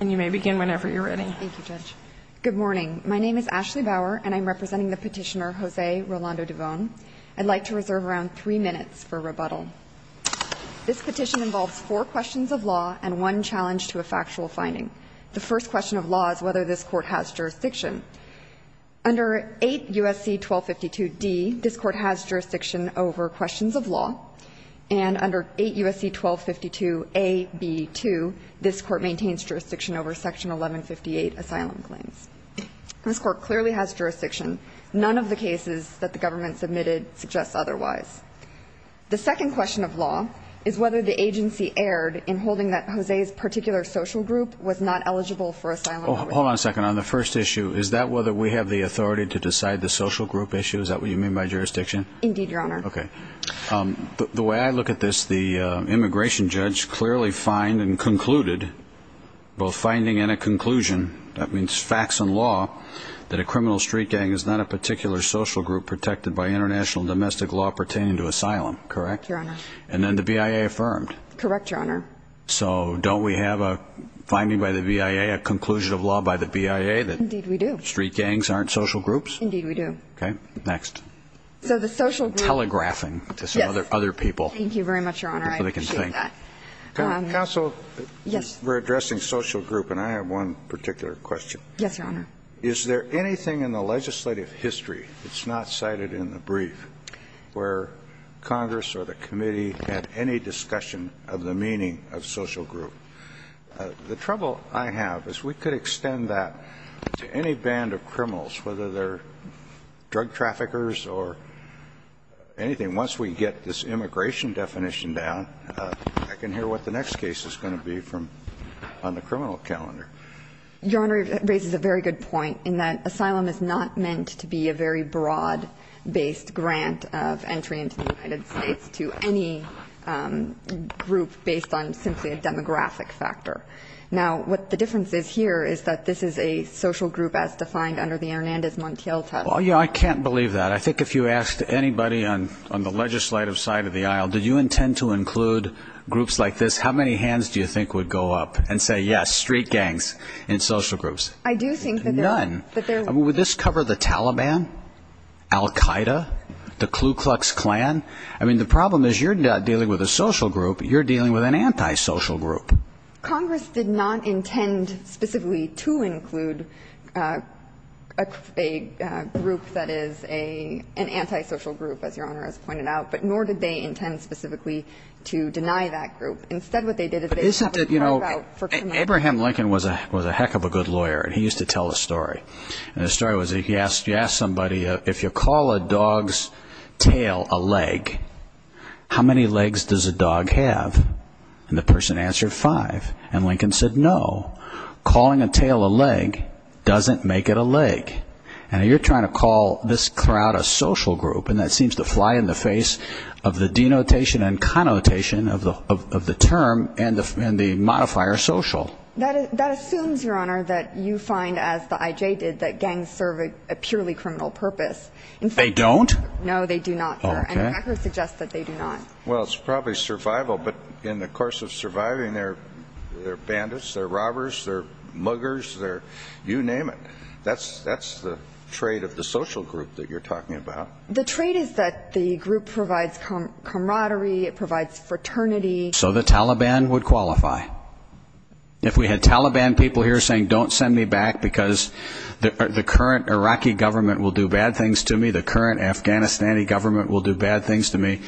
And you may begin whenever you're ready. Thank you, Judge. Good morning. My name is Ashley Bauer, and I'm representing the petitioner, Jose Rolando Duvon. I'd like to reserve around three minutes for rebuttal. This petition involves four questions of law and one challenge to a factual finding. The first question of law is whether this Court has jurisdiction. Under 8 U.S.C. 1252d, this Court has jurisdiction over questions of law, and under 8 U.S.C. 1252a-b-2, this Court maintains jurisdiction over Section 1158 asylum claims. This Court clearly has jurisdiction. None of the cases that the government submitted suggest otherwise. The second question of law is whether the agency erred in holding that Jose's particular social group was not eligible for asylum. Hold on a second. On the first issue, is that whether we have the authority to decide the social group issue? Is that what you mean by jurisdiction? Indeed, Your Honor. Okay. The way I look at this, the immigration judge clearly fined and concluded, both finding and a conclusion, that means facts and law, that a criminal street gang is not a particular social group protected by international domestic law pertaining to asylum, correct? Your Honor. And then the BIA affirmed. Correct, Your Honor. So don't we have a finding by the BIA, a conclusion of law by the BIA, that street gangs aren't social groups? Indeed, we do. Okay. Next. So the social group. Telegraphing to some other people. Yes. Thank you very much, Your Honor. I appreciate that. Counsel. Yes. We're addressing social group, and I have one particular question. Yes, Your Honor. Is there anything in the legislative history that's not cited in the brief where Congress or the committee had any discussion of the meaning of social group? The trouble I have is we could extend that to any band of criminals, whether they're drug traffickers or anything. Once we get this immigration definition down, I can hear what the next case is going to be from the criminal calendar. Your Honor, it raises a very good point in that asylum is not meant to be a very broad-based grant of entry into the United States to any group based on simply a demographic factor. Now, what the difference is here is that this is a social group as defined under the Hernandez Montiel test. Well, yeah, I can't believe that. I think if you asked anybody on the legislative side of the aisle, did you intend to include groups like this, how many hands do you think would go up and say, yes, street gangs in social groups? I do think that there are. None. I mean, would this cover the Taliban, Al Qaeda, the Ku Klux Klan? I mean, the problem is you're not dealing with a social group. You're dealing with an antisocial group. Congress did not intend specifically to include a group that is an antisocial group, as Your Honor has pointed out, but nor did they intend specifically to deny that group. Instead, what they did is they had to carve out for criminals. Abraham Lincoln was a heck of a good lawyer, and he used to tell a story. And the story was he asked somebody, if you call a dog's tail a leg, how many legs does a dog have? And the person answered five. And Lincoln said, no, calling a tail a leg doesn't make it a leg. And you're trying to call this crowd a social group, and that seems to fly in the face of the denotation and connotation of the term and the modifier social. That assumes, Your Honor, that you find, as the IJ did, that gangs serve a purely criminal purpose. They don't? No, they do not, Your Honor. Okay. And the record suggests that they do not. Well, it's probably survival, but in the course of surviving, they're bandits, they're robbers, they're muggers, they're you name it. That's the trait of the social group that you're talking about. The trait is that the group provides camaraderie, it provides fraternity. So the Taliban would qualify. If we had Taliban people here saying, don't send me back because the current Iraqi government will do bad things to me, the current Afghanistan government will do bad things to me,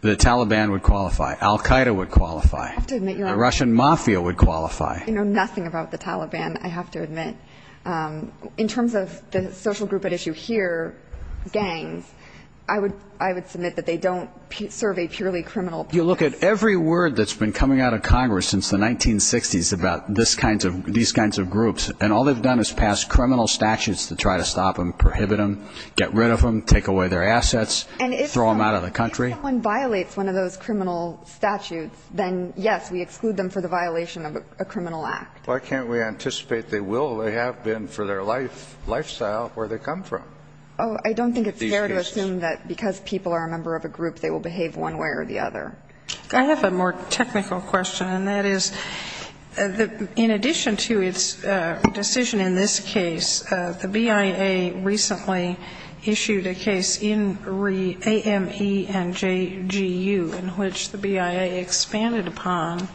the Taliban would qualify. Al Qaeda would qualify. I have to admit, Your Honor. The Russian mafia would qualify. You know nothing about the Taliban, I have to admit. In terms of the social group at issue here, gangs, I would submit that they don't serve a purely criminal purpose. You look at every word that's been coming out of Congress since the 1960s about these kinds of groups, and all they've done is pass criminal statutes to try to stop them, prohibit them, get rid of them, take away their assets. Throw them out of the country. And if someone violates one of those criminal statutes, then, yes, we exclude them for the violation of a criminal act. Why can't we anticipate they will? They have been for their life, lifestyle, where they come from. Oh, I don't think it's fair to assume that because people are a member of a group, they will behave one way or the other. I have a more technical question, and that is, in addition to its decision in this case, the BIA recently issued a case in AME and JGU in which the BIA expanded upon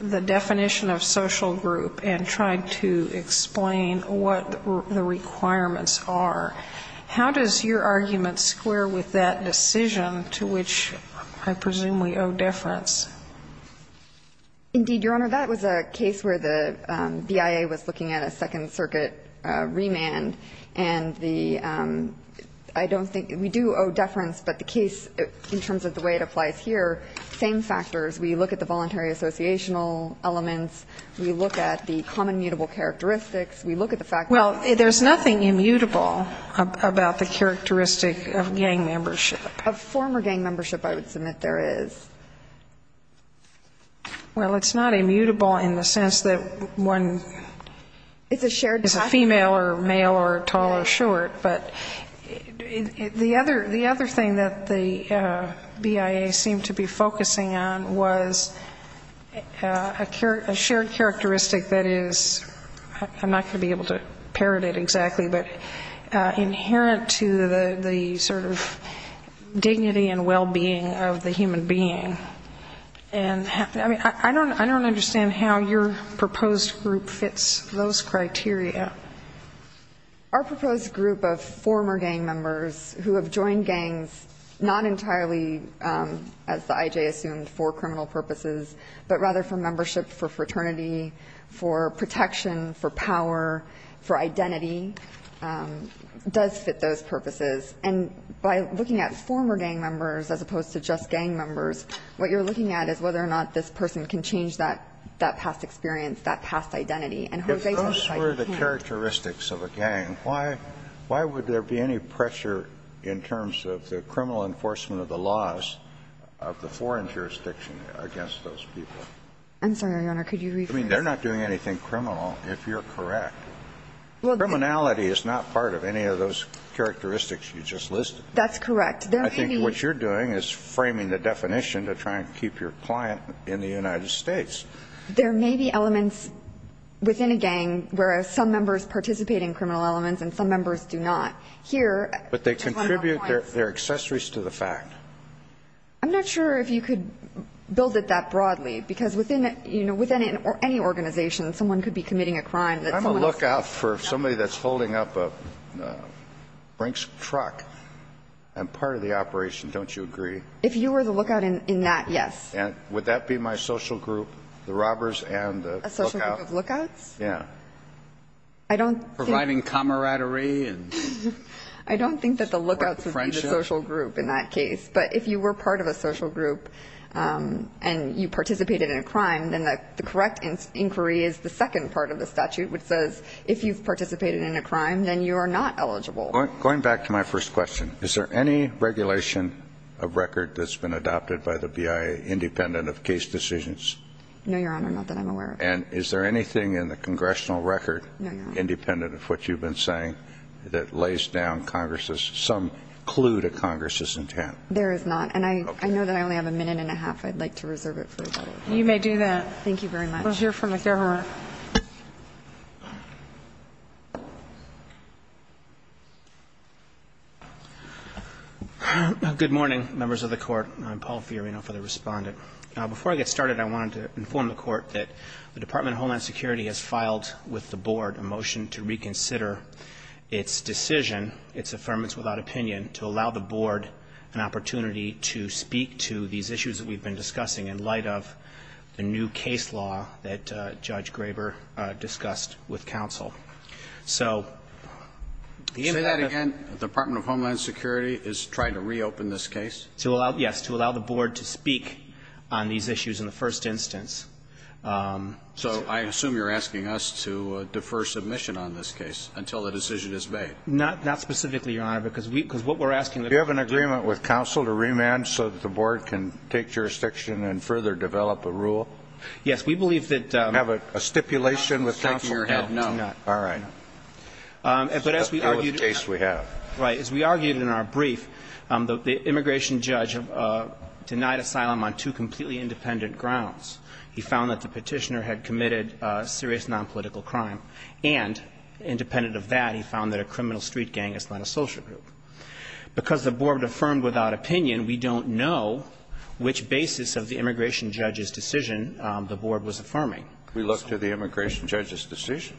the definition of social group and tried to explain what the requirements are. How does your argument square with that decision to which I presume we owe deference? Indeed, Your Honor, that was a case where the BIA was looking at a Second Circuit remand, and the ‑‑ I don't think ‑‑ we do owe deference, but the case, in terms of the way it applies here, same factors. We look at the voluntary associational elements. We look at the common mutable characteristics. We look at the fact that ‑‑ Well, there's nothing immutable about the characteristic of gang membership. Of former gang membership, I would submit there is. Well, it's not immutable in the sense that one ‑‑ It's a shared ‑‑ It's a female or male or tall or short. But the other thing that the BIA seemed to be focusing on was a shared characteristic that is, I'm not going to be able to parrot it exactly, but inherent to the sort of dignity and well‑being of the human being. I mean, I don't understand how your proposed group fits those criteria. Our proposed group of former gang members who have joined gangs not entirely, as the I.J. assumed, for criminal purposes, but rather for membership, for fraternity, for protection, for power, for identity, does fit those purposes. And by looking at former gang members as opposed to just gang members, what you're looking at is whether or not this person can change that past experience, that past identity. If those were the characteristics of a gang, why would there be any pressure in terms of the criminal enforcement of the laws of the foreign jurisdiction against those people? I'm sorry, Your Honor. Could you rephrase that? I mean, they're not doing anything criminal, if you're correct. Criminality is not part of any of those characteristics you just listed. That's correct. I think what you're doing is framing the definition to try and keep your client in the United States. There may be elements within a gang where some members participate in criminal elements and some members do not. But they contribute their accessories to the fact. I'm not sure if you could build it that broadly, because within any organization, someone could be committing a crime. I'm a lookout for somebody that's holding up a brink truck. I'm part of the operation. Don't you agree? If you were the lookout in that, yes. And would that be my social group, the robbers and the lookout? A social group of lookouts? Yeah. Providing camaraderie? I don't think that the lookouts would be the social group in that case. But if you were part of a social group and you participated in a crime, then the correct inquiry is the second part of the statute, which says if you've participated in a crime, then you are not eligible. Going back to my first question, is there any regulation of record that's been adopted by the BIA independent of case decisions? No, Your Honor, not that I'm aware of. And is there anything in the congressional record independent of what you've been saying that lays down Congress's some clue to Congress's intent? There is not. And I know that I only have a minute and a half. I'd like to reserve it for you. You may do that. Thank you very much. We'll hear from the government. Good morning, members of the Court. I'm Paul Fiorina for the Respondent. Before I get started, I wanted to inform the Court that the Department of Homeland Security has filed with the Board a motion to reconsider its decision, its affirmance without opinion, to allow the Board an opportunity to speak to these issues that we've been discussing in light of the new case law that Judge Graber discussed with counsel. So... Say that again? The Department of Homeland Security is trying to reopen this case? Yes, to allow the Board to speak on these issues in the first instance. So I assume you're asking us to defer submission on this case until the decision is made? Not specifically, Your Honor, because what we're asking... Do you have an agreement with counsel to remand so that the Board can take jurisdiction and further develop a rule? Yes, we believe that... Have a stipulation with counsel? No. All right. But as we argued... In the case we have. Right. As we argued in our brief, the immigration judge denied asylum on two completely independent grounds. He found that the petitioner had committed serious nonpolitical crime, and independent of that, he found that a criminal street gang is not a social group. Because the Board affirmed without opinion, we don't know which basis of the immigration judge's decision the Board was affirming. We looked at the immigration judge's decision?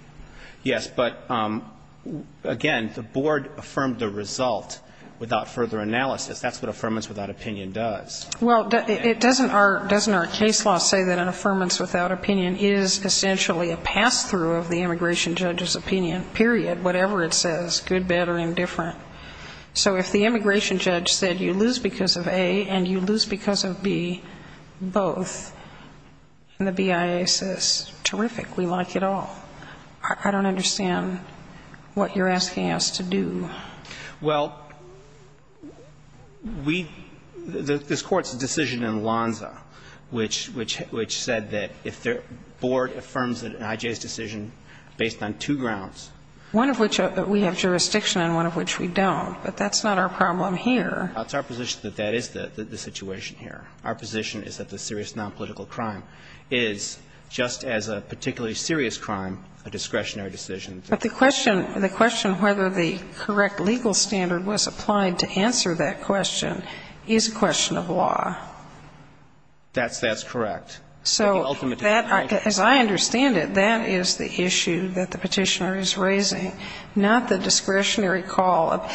Yes. But, again, the Board affirmed the result without further analysis. That's what affirmance without opinion does. Well, doesn't our case law say that an affirmance without opinion is essentially a pass-through of the immigration judge's opinion, period, whatever it says, good, bad, or indifferent? So if the immigration judge said, you lose because of A, and you lose because of B, both, and the BIA says, terrific, we like it all, I don't understand what you're asking us to do. Well, we – this Court's decision in Lonza, which said that if the Board affirms an IJ's decision based on two grounds... One of which we have jurisdiction and one of which we don't. But that's not our problem here. It's our position that that is the situation here. Our position is that the serious nonpolitical crime is, just as a particularly serious crime, a discretionary decision. But the question whether the correct legal standard was applied to answer that question is a question of law. That's correct. So that, as I understand it, that is the issue that the Petitioner is raising, not the discretionary call.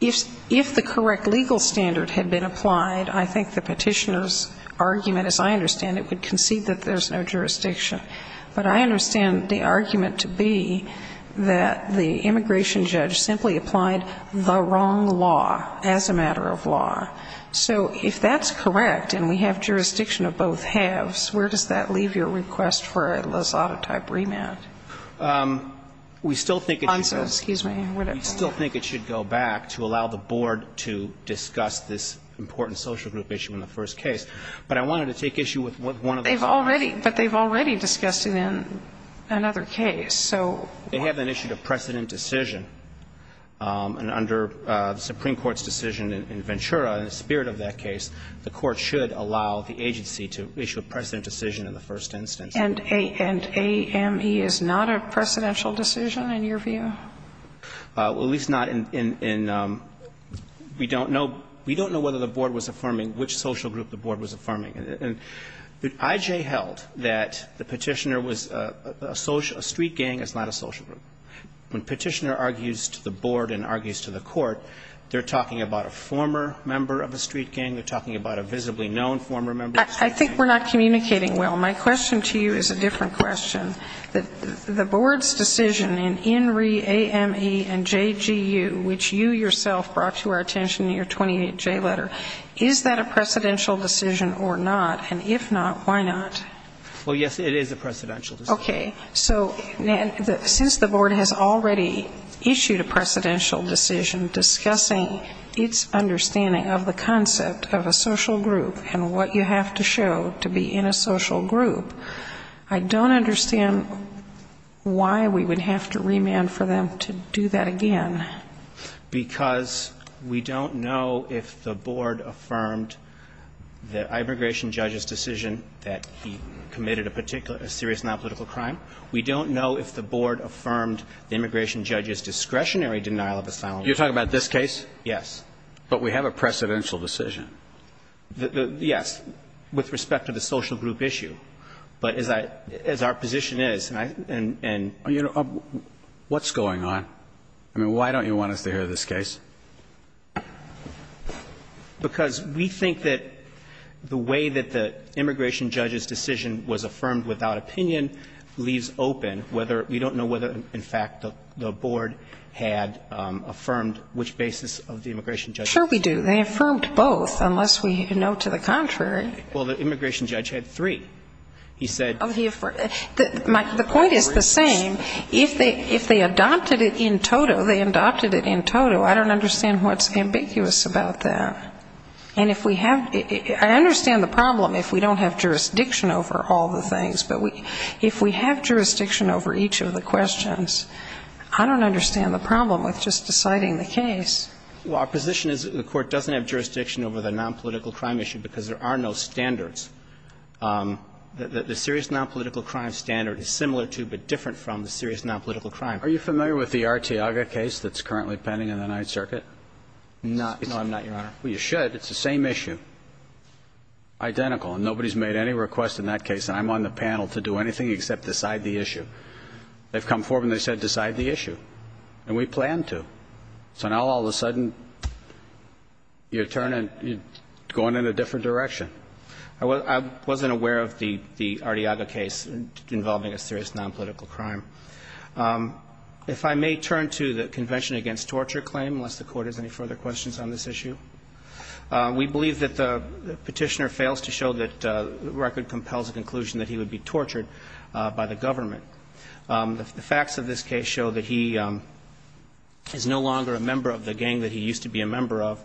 If the correct legal standard had been applied, I think the Petitioner's argument, as I understand it, would concede that there's no jurisdiction. But I understand the argument to be that the immigration judge simply applied the wrong law as a matter of law. So if that's correct and we have jurisdiction of both halves, where does that leave your request for a Lozada-type remand? We still think it should go back to allow the Board to discuss this important social group issue in the first case. But I wanted to take issue with one of the comments. But they've already discussed it in another case. They have an issue of precedent decision. And under the Supreme Court's decision in Ventura, in the spirit of that case, the Court should allow the agency to issue a precedent decision in the first instance. And AME is not a precedential decision in your view? Well, at least not in we don't know. We don't know whether the Board was affirming which social group the Board was affirming. And I.J. held that the Petitioner was a street gang is not a social group. When Petitioner argues to the Board and argues to the Court, they're talking about a former member of a street gang. They're talking about a visibly known former member of a street gang. I think we're not communicating well. My question to you is a different question. The Board's decision in INRI, AME, and JGU, which you yourself brought to our attention in your 28J letter, is that a precedential decision or not? And if not, why not? Well, yes, it is a precedential decision. Okay. So since the Board has already issued a precedential decision discussing its understanding of the concept of a social group and what you have to show to be in a social group, I don't understand why we would have to remand for them to do that again. Because we don't know if the Board affirmed the immigration judge's decision that he committed a serious nonpolitical crime. We don't know if the Board affirmed the immigration judge's discretionary denial of asylum. You're talking about this case? Yes. But we have a precedential decision. Yes, with respect to the social group issue. But as our position is, and I — You know, what's going on? I mean, why don't you want us to hear this case? Because we think that the way that the immigration judge's decision was affirmed without opinion leaves open whether — we don't know whether, in fact, the Board had affirmed which basis of the immigration judge's decision. Sure we do. They affirmed both, unless we know to the contrary. Well, the immigration judge had three. He said — The point is the same. If they adopted it in toto, they adopted it in toto. I don't understand what's ambiguous about that. And if we have — I understand the problem if we don't have jurisdiction over all the things. But if we have jurisdiction over each of the questions, I don't understand the problem with just deciding the case. Well, our position is that the Court doesn't have jurisdiction over the nonpolitical crime issue because there are no standards. The serious nonpolitical crime standard is similar to but different from the serious nonpolitical crime. Are you familiar with the Arteaga case that's currently pending in the Ninth Circuit? No. No, I'm not, Your Honor. Well, you should. It's the same issue. Identical. And nobody's made any request in that case. And I'm on the panel to do anything except decide the issue. They've come forward and they've said decide the issue. And we plan to. So now all of a sudden, you're turning — you're going in a different direction. I wasn't aware of the Arteaga case involving a serious nonpolitical crime. If I may turn to the Convention Against Torture claim, unless the Court has any further questions on this issue. We believe that the petitioner fails to show that the record compels a conclusion that he would be tortured by the government. The facts of this case show that he is no longer a member of the gang that he used to be a member of.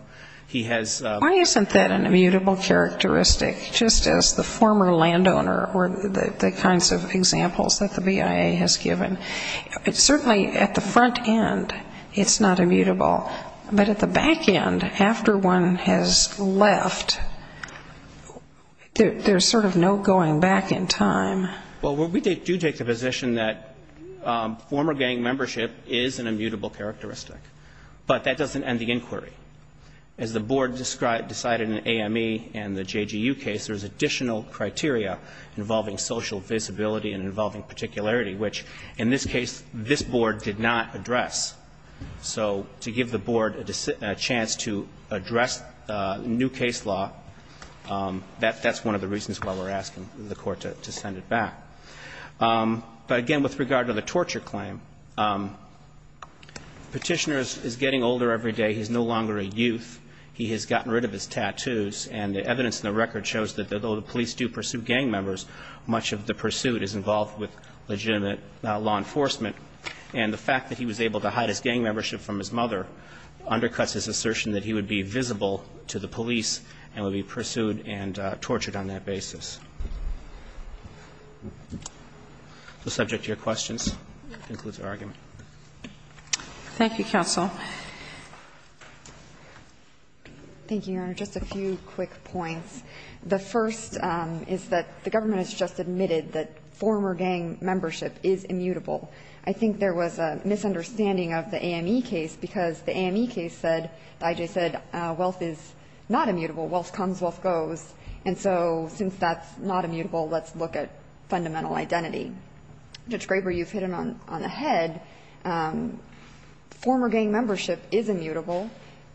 He has — Why isn't that an immutable characteristic, just as the former landowner or the kinds of examples that the BIA has given? Certainly at the front end, it's not immutable. But at the back end, after one has left, there's sort of no going back in time. Well, we do take the position that former gang membership is an immutable characteristic. But that doesn't end the inquiry. As the Board decided in the AME and the JGU case, there's additional criteria involving social visibility and involving particularity, which, in this case, this Board did not address. So to give the Board a chance to address new case law, that's one of the reasons why we're asking the Court to send it back. But, again, with regard to the torture claim, the petitioner is getting older every day. He's no longer a youth. He has gotten rid of his tattoos. And the evidence in the record shows that, though the police do pursue gang members, much of the pursuit is involved with legitimate law enforcement. And the fact that he was able to hide his gang membership from his mother undercuts his assertion that he would be visible to the police and would be pursued and tortured on that basis. The subject of your questions concludes our argument. Thank you, counsel. Thank you, Your Honor. Just a few quick points. The first is that the government has just admitted that former gang membership is immutable. I think there was a misunderstanding of the AME case because the AME case said, the I.J. said, wealth is not immutable. Wealth comes, wealth goes. And so since that's not immutable, let's look at fundamental identity. Judge Graber, you've hit him on the head. Former gang membership is immutable.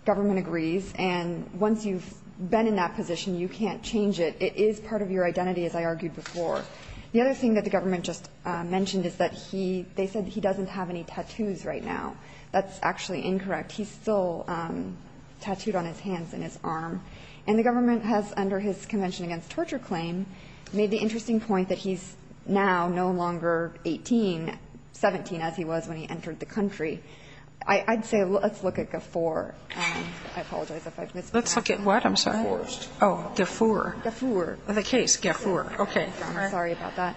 Government agrees. And once you've been in that position, you can't change it. It is part of your identity, as I argued before. The other thing that the government just mentioned is that he, they said he doesn't have any tattoos right now. That's actually incorrect. He's still tattooed on his hands and his arm. And the government has, under his Convention Against Torture claim, made the I'd say let's look at Gafoor. I apologize if I've mispronounced it. Let's look at what, I'm sorry? Oh, Gafoor. Gafoor. The case, Gafoor. Okay. I'm sorry about that.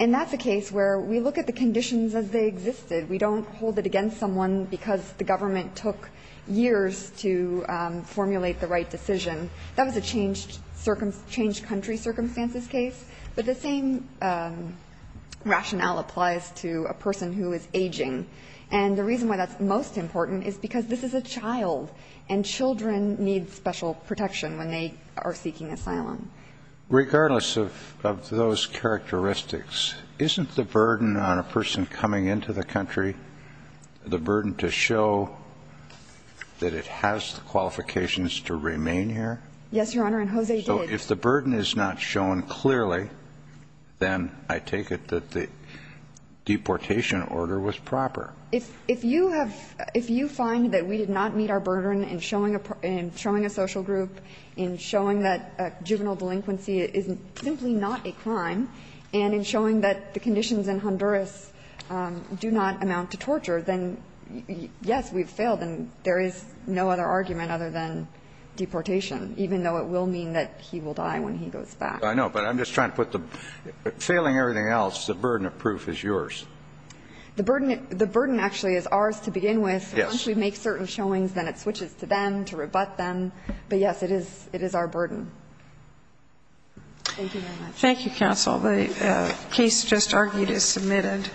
And that's a case where we look at the conditions as they existed. We don't hold it against someone because the government took years to formulate the right decision. That was a changed country circumstances case. But the same rationale applies to a person who is aging. And the reason why that's most important is because this is a child, and children need special protection when they are seeking asylum. Regardless of those characteristics, isn't the burden on a person coming into the country the burden to show that it has the qualifications to remain here? Yes, Your Honor, and Jose did. If the burden is not shown clearly, then I take it that the deportation order was proper. If you have, if you find that we did not meet our burden in showing a social group, in showing that juvenile delinquency is simply not a crime, and in showing that the conditions in Honduras do not amount to torture, then yes, we've failed. And there is no other argument other than deportation, even though it will mean that he will die when he goes back. I know, but I'm just trying to put the, failing everything else, the burden of proof is yours. The burden, the burden actually is ours to begin with. Yes. Once we make certain showings, then it switches to them, to rebut them. But yes, it is, it is our burden. Thank you very much. Thank you, counsel. The case just argued is submitted.